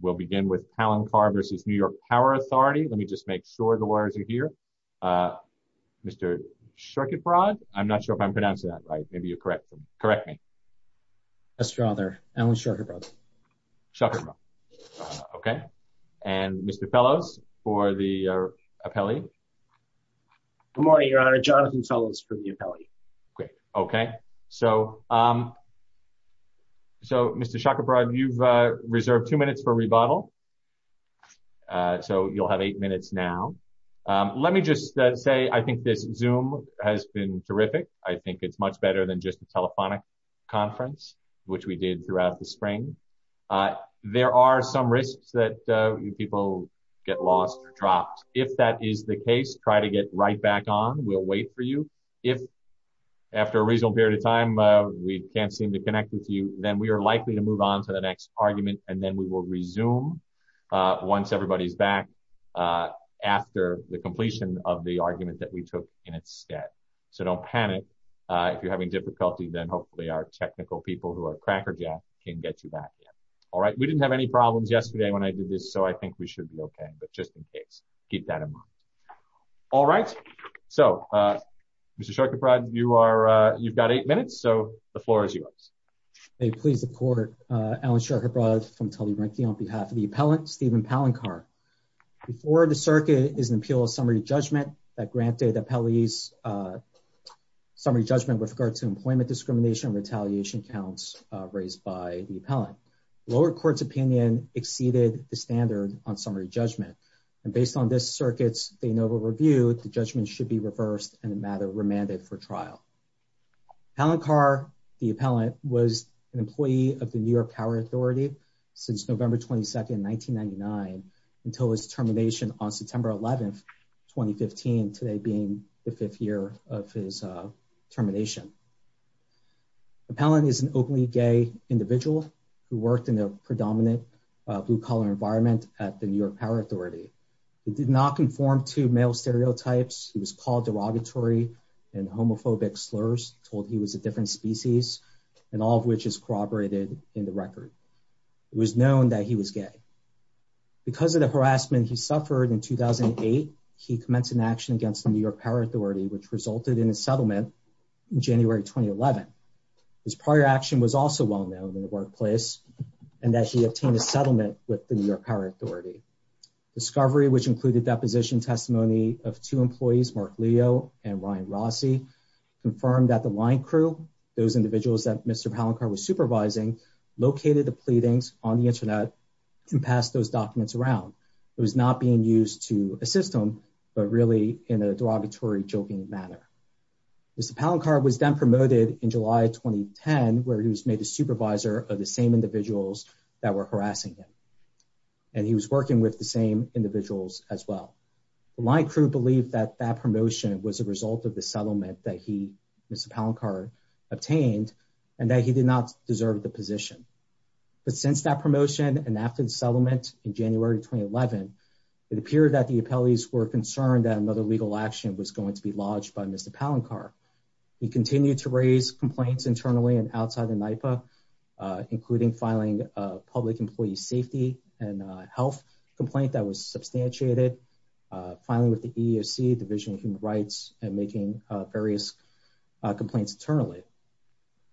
We'll begin with Palencar v. New York Power Authority. Let me just make sure the lawyers are here. Mr. Shakerbrad, I'm not sure if I'm pronouncing that right. Maybe you correct me. Yes, Your Honor, Alan Shakerbrad. Shakerbrad, okay. And Mr. Fellows for the appellee. Good morning, Your Honor. Jonathan Fellows for the appellee. Great, okay. So Mr. Shakerbrad, you've reserved two minutes for rebuttal. So you'll have eight minutes now. Let me just say, I think this Zoom has been terrific. I think it's much better than just a telephonic conference, which we did throughout the spring. There are some risks that people get lost or dropped. If that is the case, try to get right back on. We'll wait for you. If after a reasonable period of time, we can't seem to connect with you, then we are likely to move on to the next argument. And then we will resume once everybody's back after the completion of the argument that we took in its stead. So don't panic. If you're having difficulty, then hopefully our technical people who are crackerjack can get you back in. All right, we didn't have any problems yesterday when I did this. So I think we should be okay, but just in case. Keep that in mind. All right. So Mr. Sharkeyprod, you've got eight minutes. So the floor is yours. May it please the court. Alan Sharkeyprod from Tully Rankine on behalf of the appellant, Stephen Palancar. Before the circuit is an appeal of summary judgment that granted the appellee's summary judgment with regard to employment discrimination and retaliation counts raised by the appellant. Lower court's opinion exceeded the standard on summary judgment. And based on this circuit's de novo review, the judgment should be reversed and the matter remanded for trial. Palancar, the appellant, was an employee of the New York Power Authority since November 22nd, 1999 until his termination on September 11th, 2015, today being the fifth year of his termination. Appellant is an openly gay individual who worked in a predominant blue collar environment at the New York Power Authority. He did not conform to male stereotypes. He was called derogatory and homophobic slurs, told he was a different species and all of which is corroborated in the record. It was known that he was gay. Because of the harassment he suffered in 2008, he commenced an action against the New York Power Authority which resulted in a settlement in January, 2011. His prior action was also well-known in the workplace and that he obtained a settlement with the New York Power Authority. Discovery, which included deposition testimony of two employees, Mark Leo and Ryan Rossi, confirmed that the line crew, those individuals that Mr. Palancar was supervising, located the pleadings on the internet and passed those documents around. It was not being used to assist him, but really in a derogatory, joking manner. Mr. Palancar was then promoted in July, 2010 where he was made a supervisor of the same individuals that were harassing him. And he was working with the same individuals as well. The line crew believed that that promotion was a result of the settlement that he, Mr. Palancar, obtained and that he did not deserve the position. But since that promotion and after the settlement in January, 2011, it appeared that the appellees were concerned that another legal action was going to be lodged by Mr. Palancar. He continued to raise complaints internally and outside of NYPA, including filing a public employee safety and health complaint that was substantiated, filing with the EEOC, Division of Human Rights, and making various complaints internally.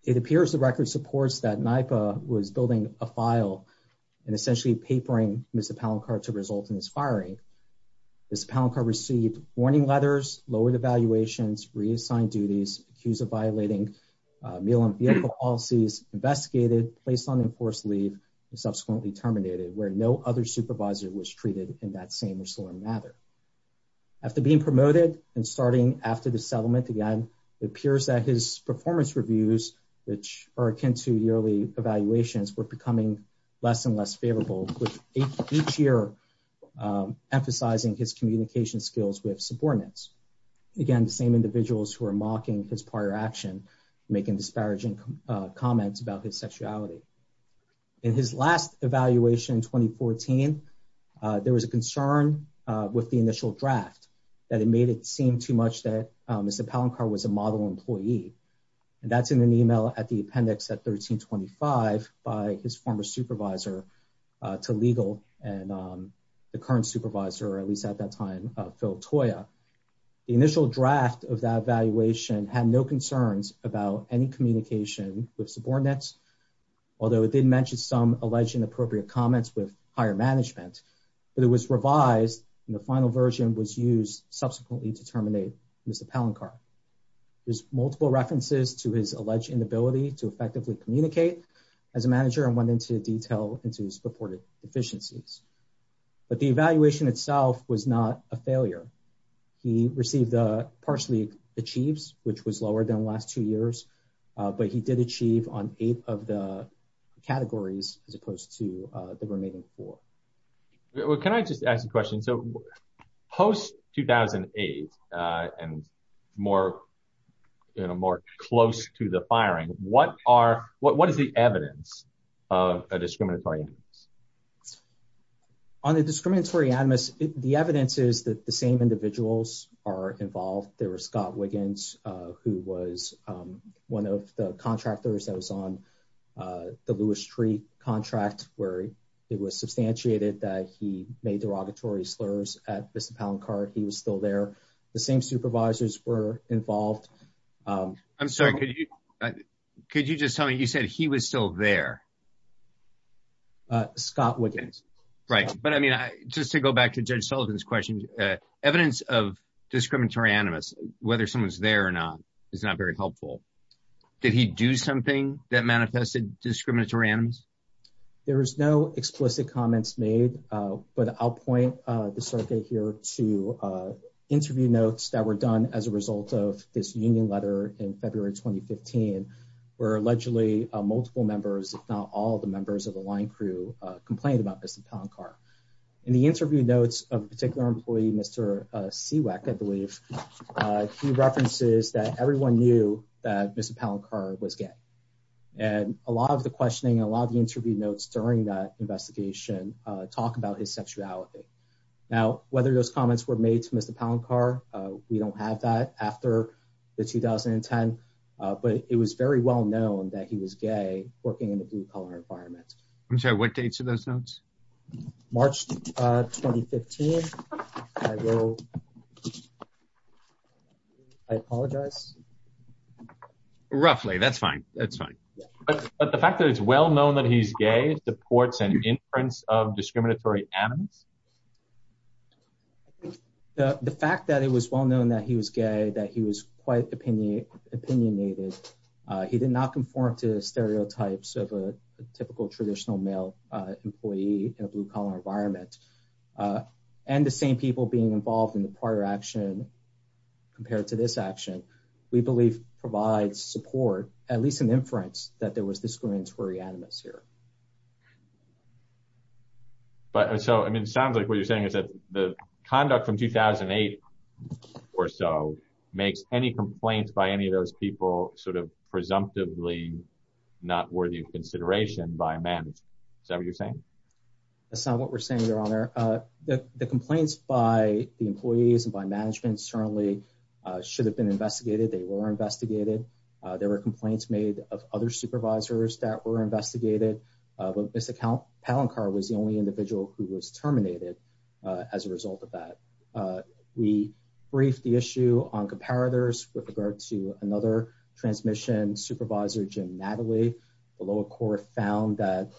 It appears the record supports that NYPA was building a file and essentially papering Mr. Palancar to result in his firing. Mr. Palancar received warning letters, lowered evaluations, reassigned duties, accused of violating meal and vehicle policies, investigated, placed on enforced leave, and subsequently terminated, where no other supervisor was treated in that same or similar manner. After being promoted and starting after the settlement, again, it appears that his performance reviews, which are akin to yearly evaluations, were becoming less and less favorable, with each year emphasizing his communication skills with subordinates. Again, the same individuals who are mocking his prior action, making disparaging comments about his sexuality. In his last evaluation in 2014, there was a concern with the initial draft that it made it seem too much that Mr. Palancar was a model employee. And that's in an email at the appendix at 1325 by his former supervisor to legal and the current supervisor, at least at that time, Phil Toya. The initial draft of that evaluation had no concerns about any communication with subordinates, although it did mention some alleged inappropriate comments with higher management. But it was revised, and the final version was used subsequently to terminate Mr. Palancar. There's multiple references to his alleged inability to effectively communicate as a manager and went into detail into his reported deficiencies. But the evaluation itself was not a failure. He received the partially achieves, which was lower than the last two years, but he did achieve on eight of the categories as opposed to the remaining four. Can I just ask a question? So post 2008 and more, you know, more close to the firing, what is the evidence of a discriminatory act? On the discriminatory animus, the evidence is that the same individuals are involved. There was Scott Wiggins, who was one of the contractors that was on the Lewis Street contract, where it was substantiated that he made derogatory slurs at Mr. Palancar, he was still there. The same supervisors were involved. I'm sorry, could you just tell me, you said he was still there. Scott Wiggins. Right, but I mean, just to go back to Judge Sullivan's question, evidence of discriminatory animus, whether someone's there or not, is not very helpful. Did he do something that manifested discriminatory animus? There is no explicit comments made, but I'll point the circuit here to interview notes that were done as a result of this union letter in February, 2015, where allegedly multiple members, if not all the members of the line crew, complained about Mr. Palancar. In the interview notes of a particular employee, Mr. CWAC, I believe, he references that everyone knew that Mr. Palancar was gay. And a lot of the questioning, a lot of the interview notes during that investigation talk about his sexuality. Now, whether those comments were made to Mr. Palancar, we don't have that after the 2010, but it was very well known that he was gay, working in a blue-collar environment. I'm sorry, what dates are those notes? March, 2015, I will, I apologize. Roughly, that's fine, that's fine. But the fact that it's well known that he's gay supports an inference of discriminatory animus? The fact that it was well known that he was gay, that he was quite opinionated, he did not conform to the stereotypes of a typical traditional male employee in a blue-collar environment, and the same people being involved in the prior action compared to this action, we believe provides support, at least an inference, that there was discriminatory animus here. But so, I mean, it sounds like what you're saying is that the conduct from 2008 or so makes any complaints by any of those people sort of presumptively not worthy of consideration by a manager, is that what you're saying? That's not what we're saying, Your Honor. The complaints by the employees and by management certainly should have been investigated, they were investigated. There were complaints made of other supervisors that were investigated, but Mr. Palancar was the only individual who was terminated as a result of that. We briefed the issue on comparators with regard to another transmission supervisor, Jim Natalie, the lower court found that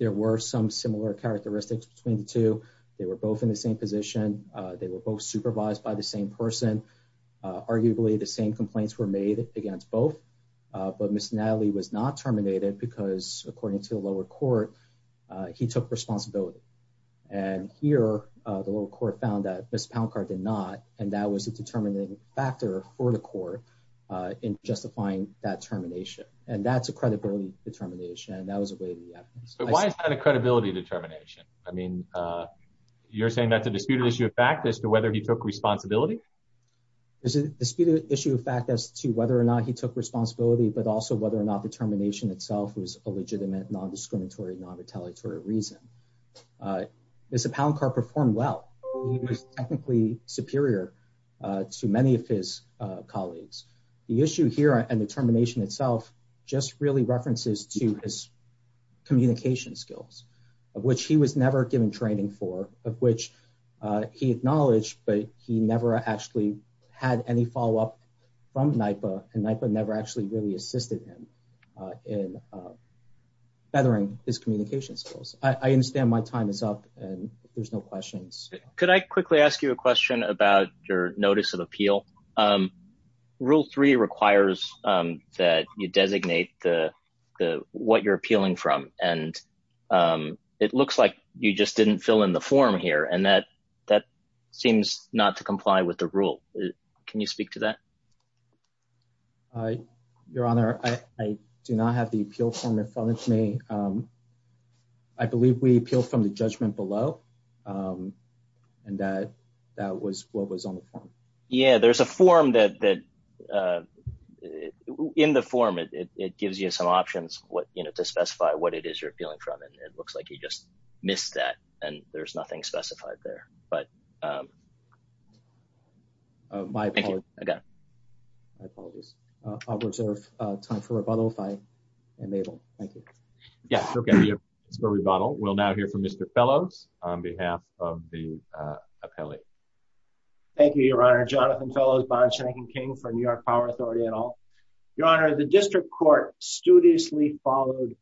there were some similar characteristics between the two, they were both in the same position, they were both supervised by the same person, arguably the same complaints were made against both, but Mr. Natalie was not terminated because according to the lower court, he took responsibility. And here, the lower court found that Mr. Palancar did not, and that was a determining factor for the court in justifying that termination. And that's a credibility determination, and that was a way to the evidence. But why is that a credibility determination? I mean, you're saying that's a disputed issue of fact as to whether he took responsibility? It's a disputed issue of fact as to whether or not he took responsibility, but also whether or not the termination itself was a legitimate, non-discriminatory, non-retaliatory reason. Mr. Palancar performed well. He was technically superior to many of his colleagues. The issue here and the termination itself just really references to his communication skills, of which he was never given training for, of which he acknowledged, but he never actually had any follow-up from NYPA, and NYPA never actually really assisted him in feathering his communication skills. I understand my time is up, and there's no questions. Could I quickly ask you a question about your notice of appeal? Rule three requires that you designate what you're appealing from, and it looks like you just didn't fill in the form here, and that seems not to comply with the rule. Can you speak to that? Your Honor, I do not have the appeal form in front of me. I believe we appeal from the judgment below, and that was what was on the form. Yeah, there's a form that, in the form, it gives you some options to specify what it is you're appealing from, and it looks like you just missed that, and there's nothing specified there, but. Thank you, I got it. My apologies. I'll reserve time for rebuttal if I am able. Thank you. Yes, okay, we have time for rebuttal. We'll now hear from Mr. Fellows on behalf of the appellee. Thank you, Your Honor. Jonathan Fellows, Bond, Shank, and King for New York Power Authority et al. Your Honor, the district court studiously followed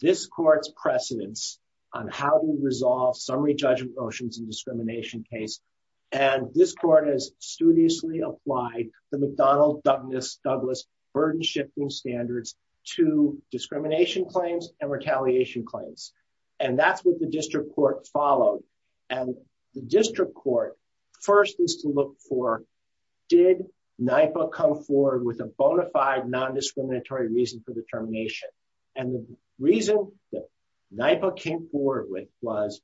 this court's precedence on how to resolve summary judgment motions in discrimination case, and this court has studiously applied the McDonnell-Douglas burden-shifting standards to discrimination claims and retaliation claims, and that's what the district court followed, and the district court first needs to look for, did NYPA come forward with a bona fide non-discriminatory reason for the termination? And the reason that NYPA came forward with was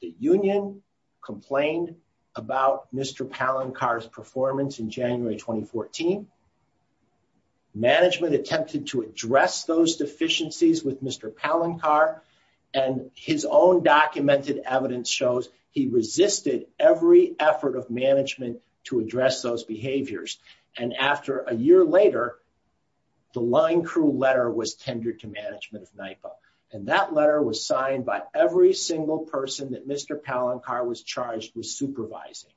the union complained about Mr. Palancar's performance in January 2014, management attempted to address those deficiencies with Mr. Palancar, and his own documented evidence shows he resisted every effort of management to address those behaviors, and after a year later, the line crew letter was tendered to management of NYPA, and that letter was signed by every single person that Mr. Palancar was charged with supervising,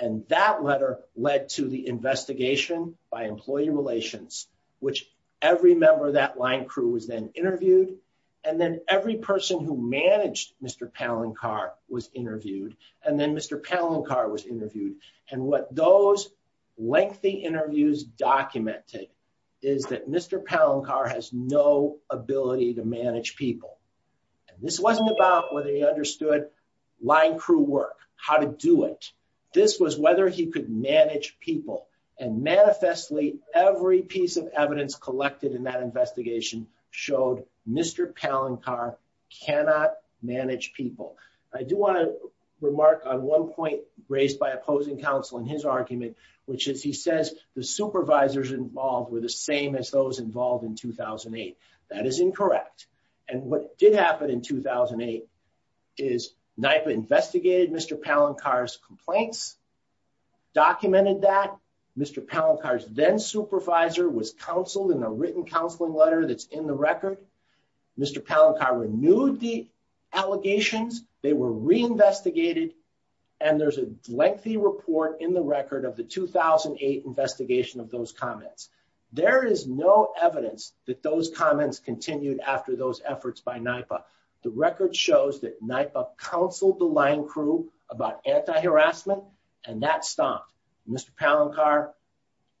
and that letter led to the investigation by employee relations, which every member of that line crew was then interviewed, and then every person who managed Mr. Palancar was interviewed, and then Mr. Palancar was interviewed, and what those lengthy interviews documented is that Mr. Palancar has no ability to manage people, and this wasn't about whether he understood line crew work, how to do it, this was whether he could manage people, and manifestly, every piece of evidence collected in that investigation showed Mr. Palancar cannot manage people. I do want to remark on one point raised by opposing counsel in his argument, which is he says the supervisors involved were the same as those involved in 2008. That is incorrect, and what did happen in 2008 is NYPA investigated Mr. Palancar's complaints, documented that, Mr. Palancar's then supervisor was counseled in a written counseling letter that's in the record, Mr. Palancar renewed the allegations, they were reinvestigated, and there's a lengthy report in the record of the 2008 investigation of those comments. There is no evidence that those comments continued after those efforts by NYPA. The record shows that NYPA counseled the line crew about anti-harassment, and that stopped. Mr. Palancar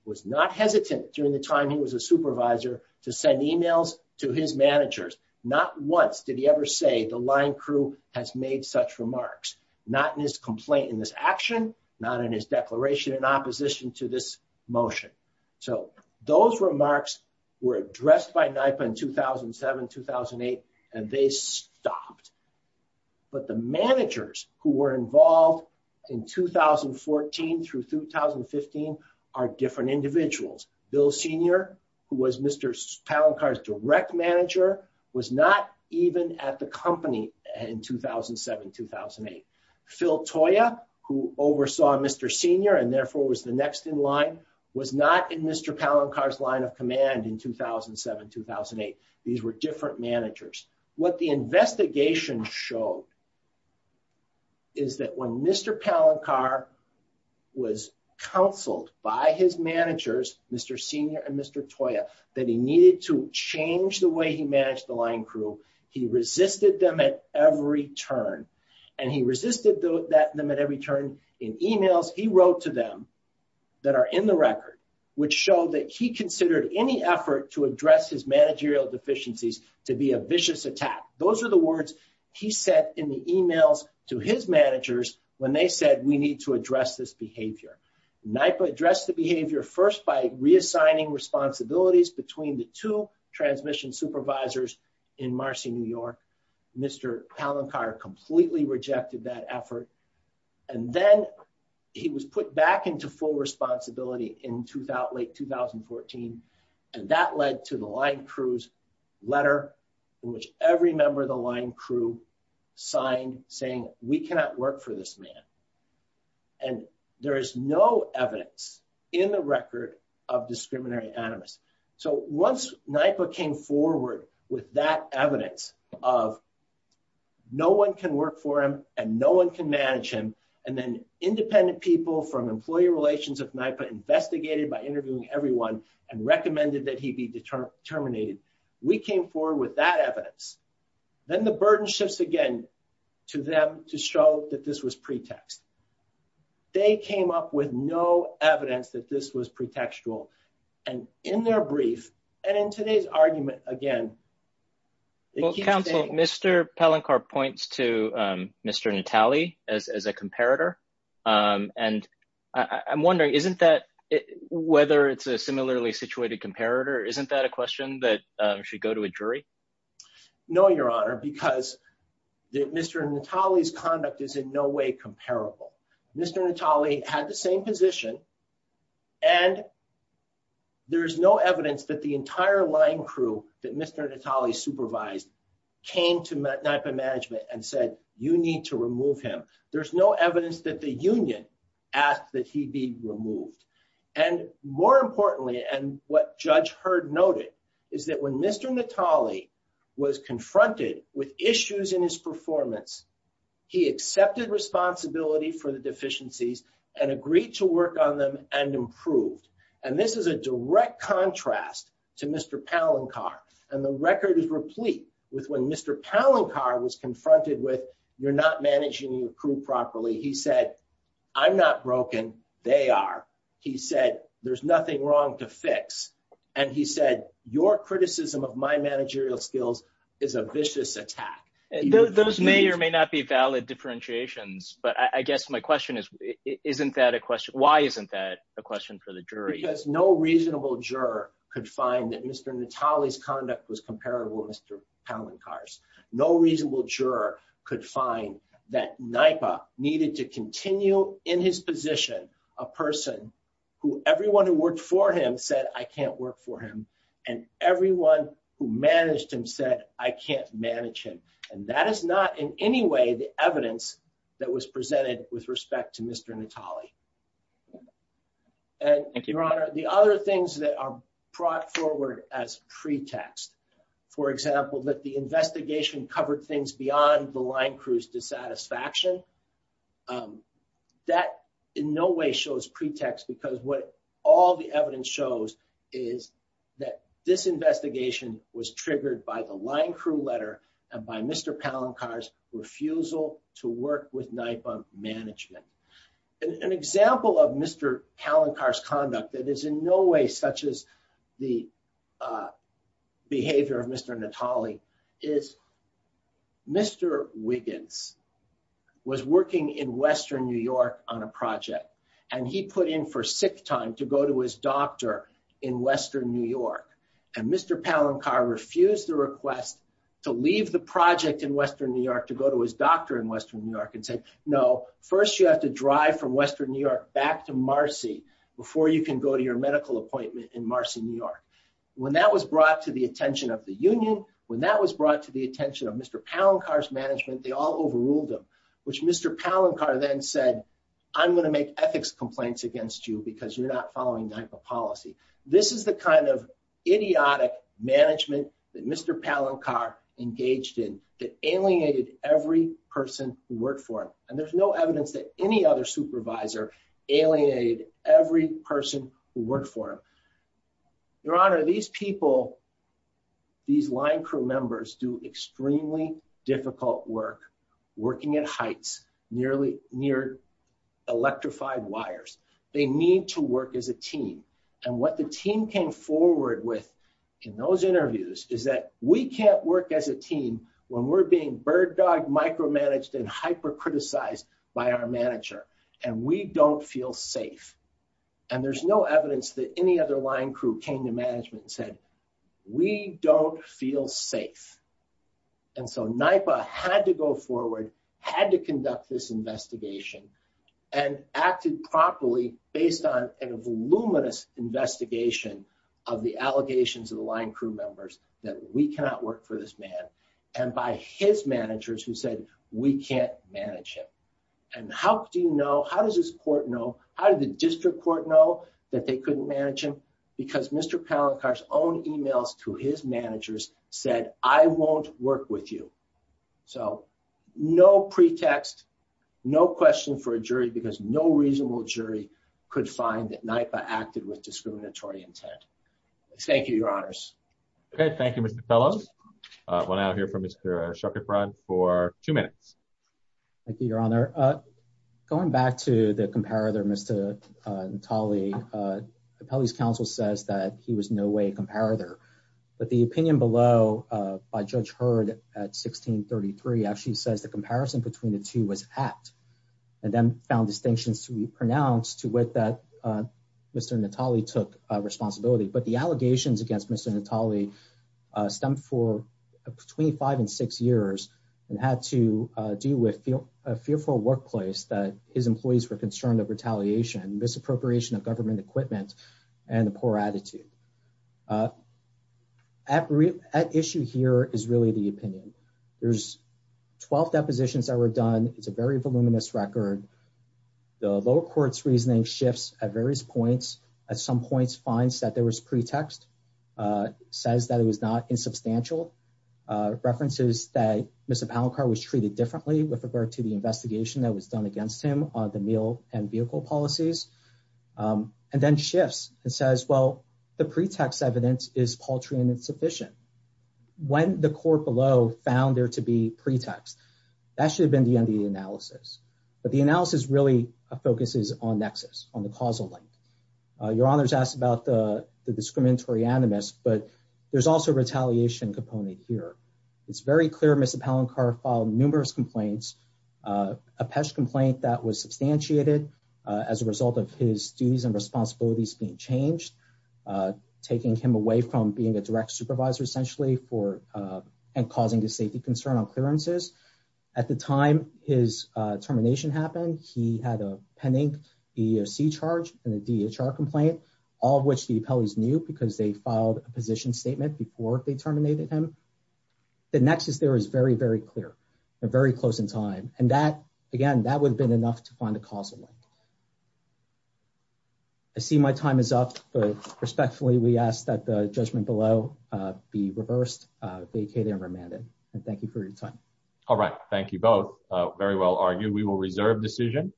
was not hesitant during the time he was a supervisor to send emails to his managers. Not once did he ever say the line crew has made such remarks, not in his complaint in this action, not in his declaration in opposition to this motion. So those remarks were addressed by NYPA in 2007, 2008, and they stopped, but the managers who were involved in 2014 through 2015 are different individuals. Bill Senior, who was Mr. Palancar's direct manager was not even at the company in 2007, 2008. Phil Toya, who oversaw Mr. Senior and therefore was the next in line was not in Mr. Palancar's line of command in 2007, 2008. These were different managers. What the investigation showed is that when Mr. Palancar was counseled by his managers, Mr. Senior and Mr. Toya, that he needed to change the way he managed the line crew, he resisted them at every turn. And he resisted them at every turn in emails he wrote to them that are in the record, which showed that he considered any effort to address his managerial deficiencies to be a vicious attack. Those are the words he said in the emails to his managers when they said, we need to address this behavior. NYPA addressed the behavior first by reassigning responsibilities between the two transmission supervisors in Marcy, New York. Mr. Palancar completely rejected that effort. And then he was put back into full responsibility in late 2014. And that led to the line crews letter in which every member of the line crew signed saying, we cannot work for this man. And there is no evidence in the record of discriminatory animus. So once NYPA came forward with that evidence of no one can work for him and no one can manage him and then independent people from employee relations of NYPA investigated by interviewing everyone and recommended that he be terminated. We came forward with that evidence. Then the burden shifts again to them to show that this was pretext. They came up with no evidence that this was pretextual and in their brief and in today's argument again, they keep saying- Mr. Palancar points to Mr. Natale as a comparator. And I'm wondering, isn't that whether it's a similarly situated comparator, isn't that a question that should go to a jury? No, your honor, because Mr. Natale's conduct is in no way comparable. Mr. Natale had the same position and there's no evidence that the entire line crew that Mr. Natale supervised came to NYPA management and said, you need to remove him. There's no evidence that the union asked that he be removed. And more importantly, and what Judge Heard noted is that when Mr. Natale was confronted with issues in his performance, he accepted responsibility for the deficiencies and agreed to work on them and improved. And this is a direct contrast to Mr. Palancar. And the record is replete with when Mr. Palancar was confronted with, you're not managing your crew properly. He said, I'm not broken, they are. He said, there's nothing wrong to fix. And he said, your criticism of my managerial skills is a vicious attack. Those may or may not be valid differentiations, but I guess my question is, why isn't that a question for the jury? Because no reasonable juror could find that Mr. Natale's conduct was comparable to Mr. Palancar's. No reasonable juror could find that NYPA needed to continue in his position, a person who everyone who worked for him said, I can't work for him. And everyone who managed him said, I can't manage him. And that is not in any way the evidence that was presented with respect to Mr. Natale. And Your Honor, the other things that are brought forward as pretext, for example, that the investigation covered things beyond the line crew's dissatisfaction, that in no way shows pretext because what all the evidence shows is that this investigation was triggered by the line crew letter and by Mr. Palancar's refusal to work with NYPA management. An example of Mr. Palancar's conduct that is in no way such as the behavior of Mr. Natale is Mr. Wiggins was working in Western New York on a project and he put in for sick time to go to his doctor in Western New York. And Mr. Palancar refused the request to leave the project in Western New York to go to his doctor in Western New York and said, no, first you have to drive from Western New York back to Marcy before you can go to your medical appointment in Marcy, New York. When that was brought to the attention of the union, when that was brought to the attention of Mr. Palancar's management, they all overruled him, which Mr. Palancar then said, I'm gonna make ethics complaints against you because you're not following NYPA policy. This is the kind of idiotic management that Mr. Palancar engaged in that alienated every person who worked for him. And there's no evidence that any other supervisor alienated every person who worked for him. Your honor, these people, these line crew members do extremely difficult work, working at heights, nearly near electrified wires. They need to work as a team. And what the team came forward with in those interviews is that we can't work as a team when we're being bird dog micromanaged and hyper-criticized by our manager, and we don't feel safe. And there's no evidence that any other line crew came to management and said, we don't feel safe. And so NYPA had to go forward, had to conduct this investigation, and acted properly based on an voluminous investigation of the allegations of the line crew members that we cannot work for this man. And by his managers who said, we can't manage him. And how do you know, how does this court know? How did the district court know that they couldn't manage him? Because Mr. Palancar's own emails to his managers said, I won't work with you. So no pretext, no question for a jury because no reasonable jury could find that NYPA acted with discriminatory intent. Thank you, your honors. Okay, thank you, Mr. Apelli. We'll now hear from Mr. Schuchertbrot for two minutes. Thank you, your honor. Going back to the comparator, Mr. Natale, Apelli's counsel says that he was no way a comparator, but the opinion below by Judge Heard at 1633 actually says the comparison between the two was apt, and then found distinctions to be pronounced to wit that Mr. Natale took responsibility. But the allegations against Mr. Natale stemmed for between five and six years and had to deal with a fearful workplace that his employees were concerned of retaliation, misappropriation of government equipment and the poor attitude. At issue here is really the opinion. There's 12 depositions that were done. It's a very voluminous record. The lower court's reasoning shifts at various points. At some points, finds that there was pretext, says that it was not insubstantial, references that Mr. Palancar was treated differently with regard to the investigation that was done against him on the meal and vehicle policies, and then shifts and says, well, the pretext evidence is paltry and insufficient. When the court below found there to be pretext, that should have been the end of the analysis. But the analysis really focuses on nexus, on the causal link. Your honors asked about the discriminatory animus, but there's also a retaliation component here. It's very clear Mr. Palancar filed numerous complaints, a PESH complaint that was substantiated as a result of his duties and responsibilities being changed, taking him away from being a direct supervisor, essentially, and causing a safety concern on clearances. At the time his termination happened, he had a pending EEOC charge and a DHR complaint, all of which the appellees knew because they filed a position statement before they terminated him. The nexus there is very, very clear and very close in time. And that, again, that would have been enough to find a causal link. I see my time is up, but respectfully, we ask that the judgment below be reversed, vacated and remanded, and thank you for your time. All right, thank you both. Very well argued. We will reserve decision.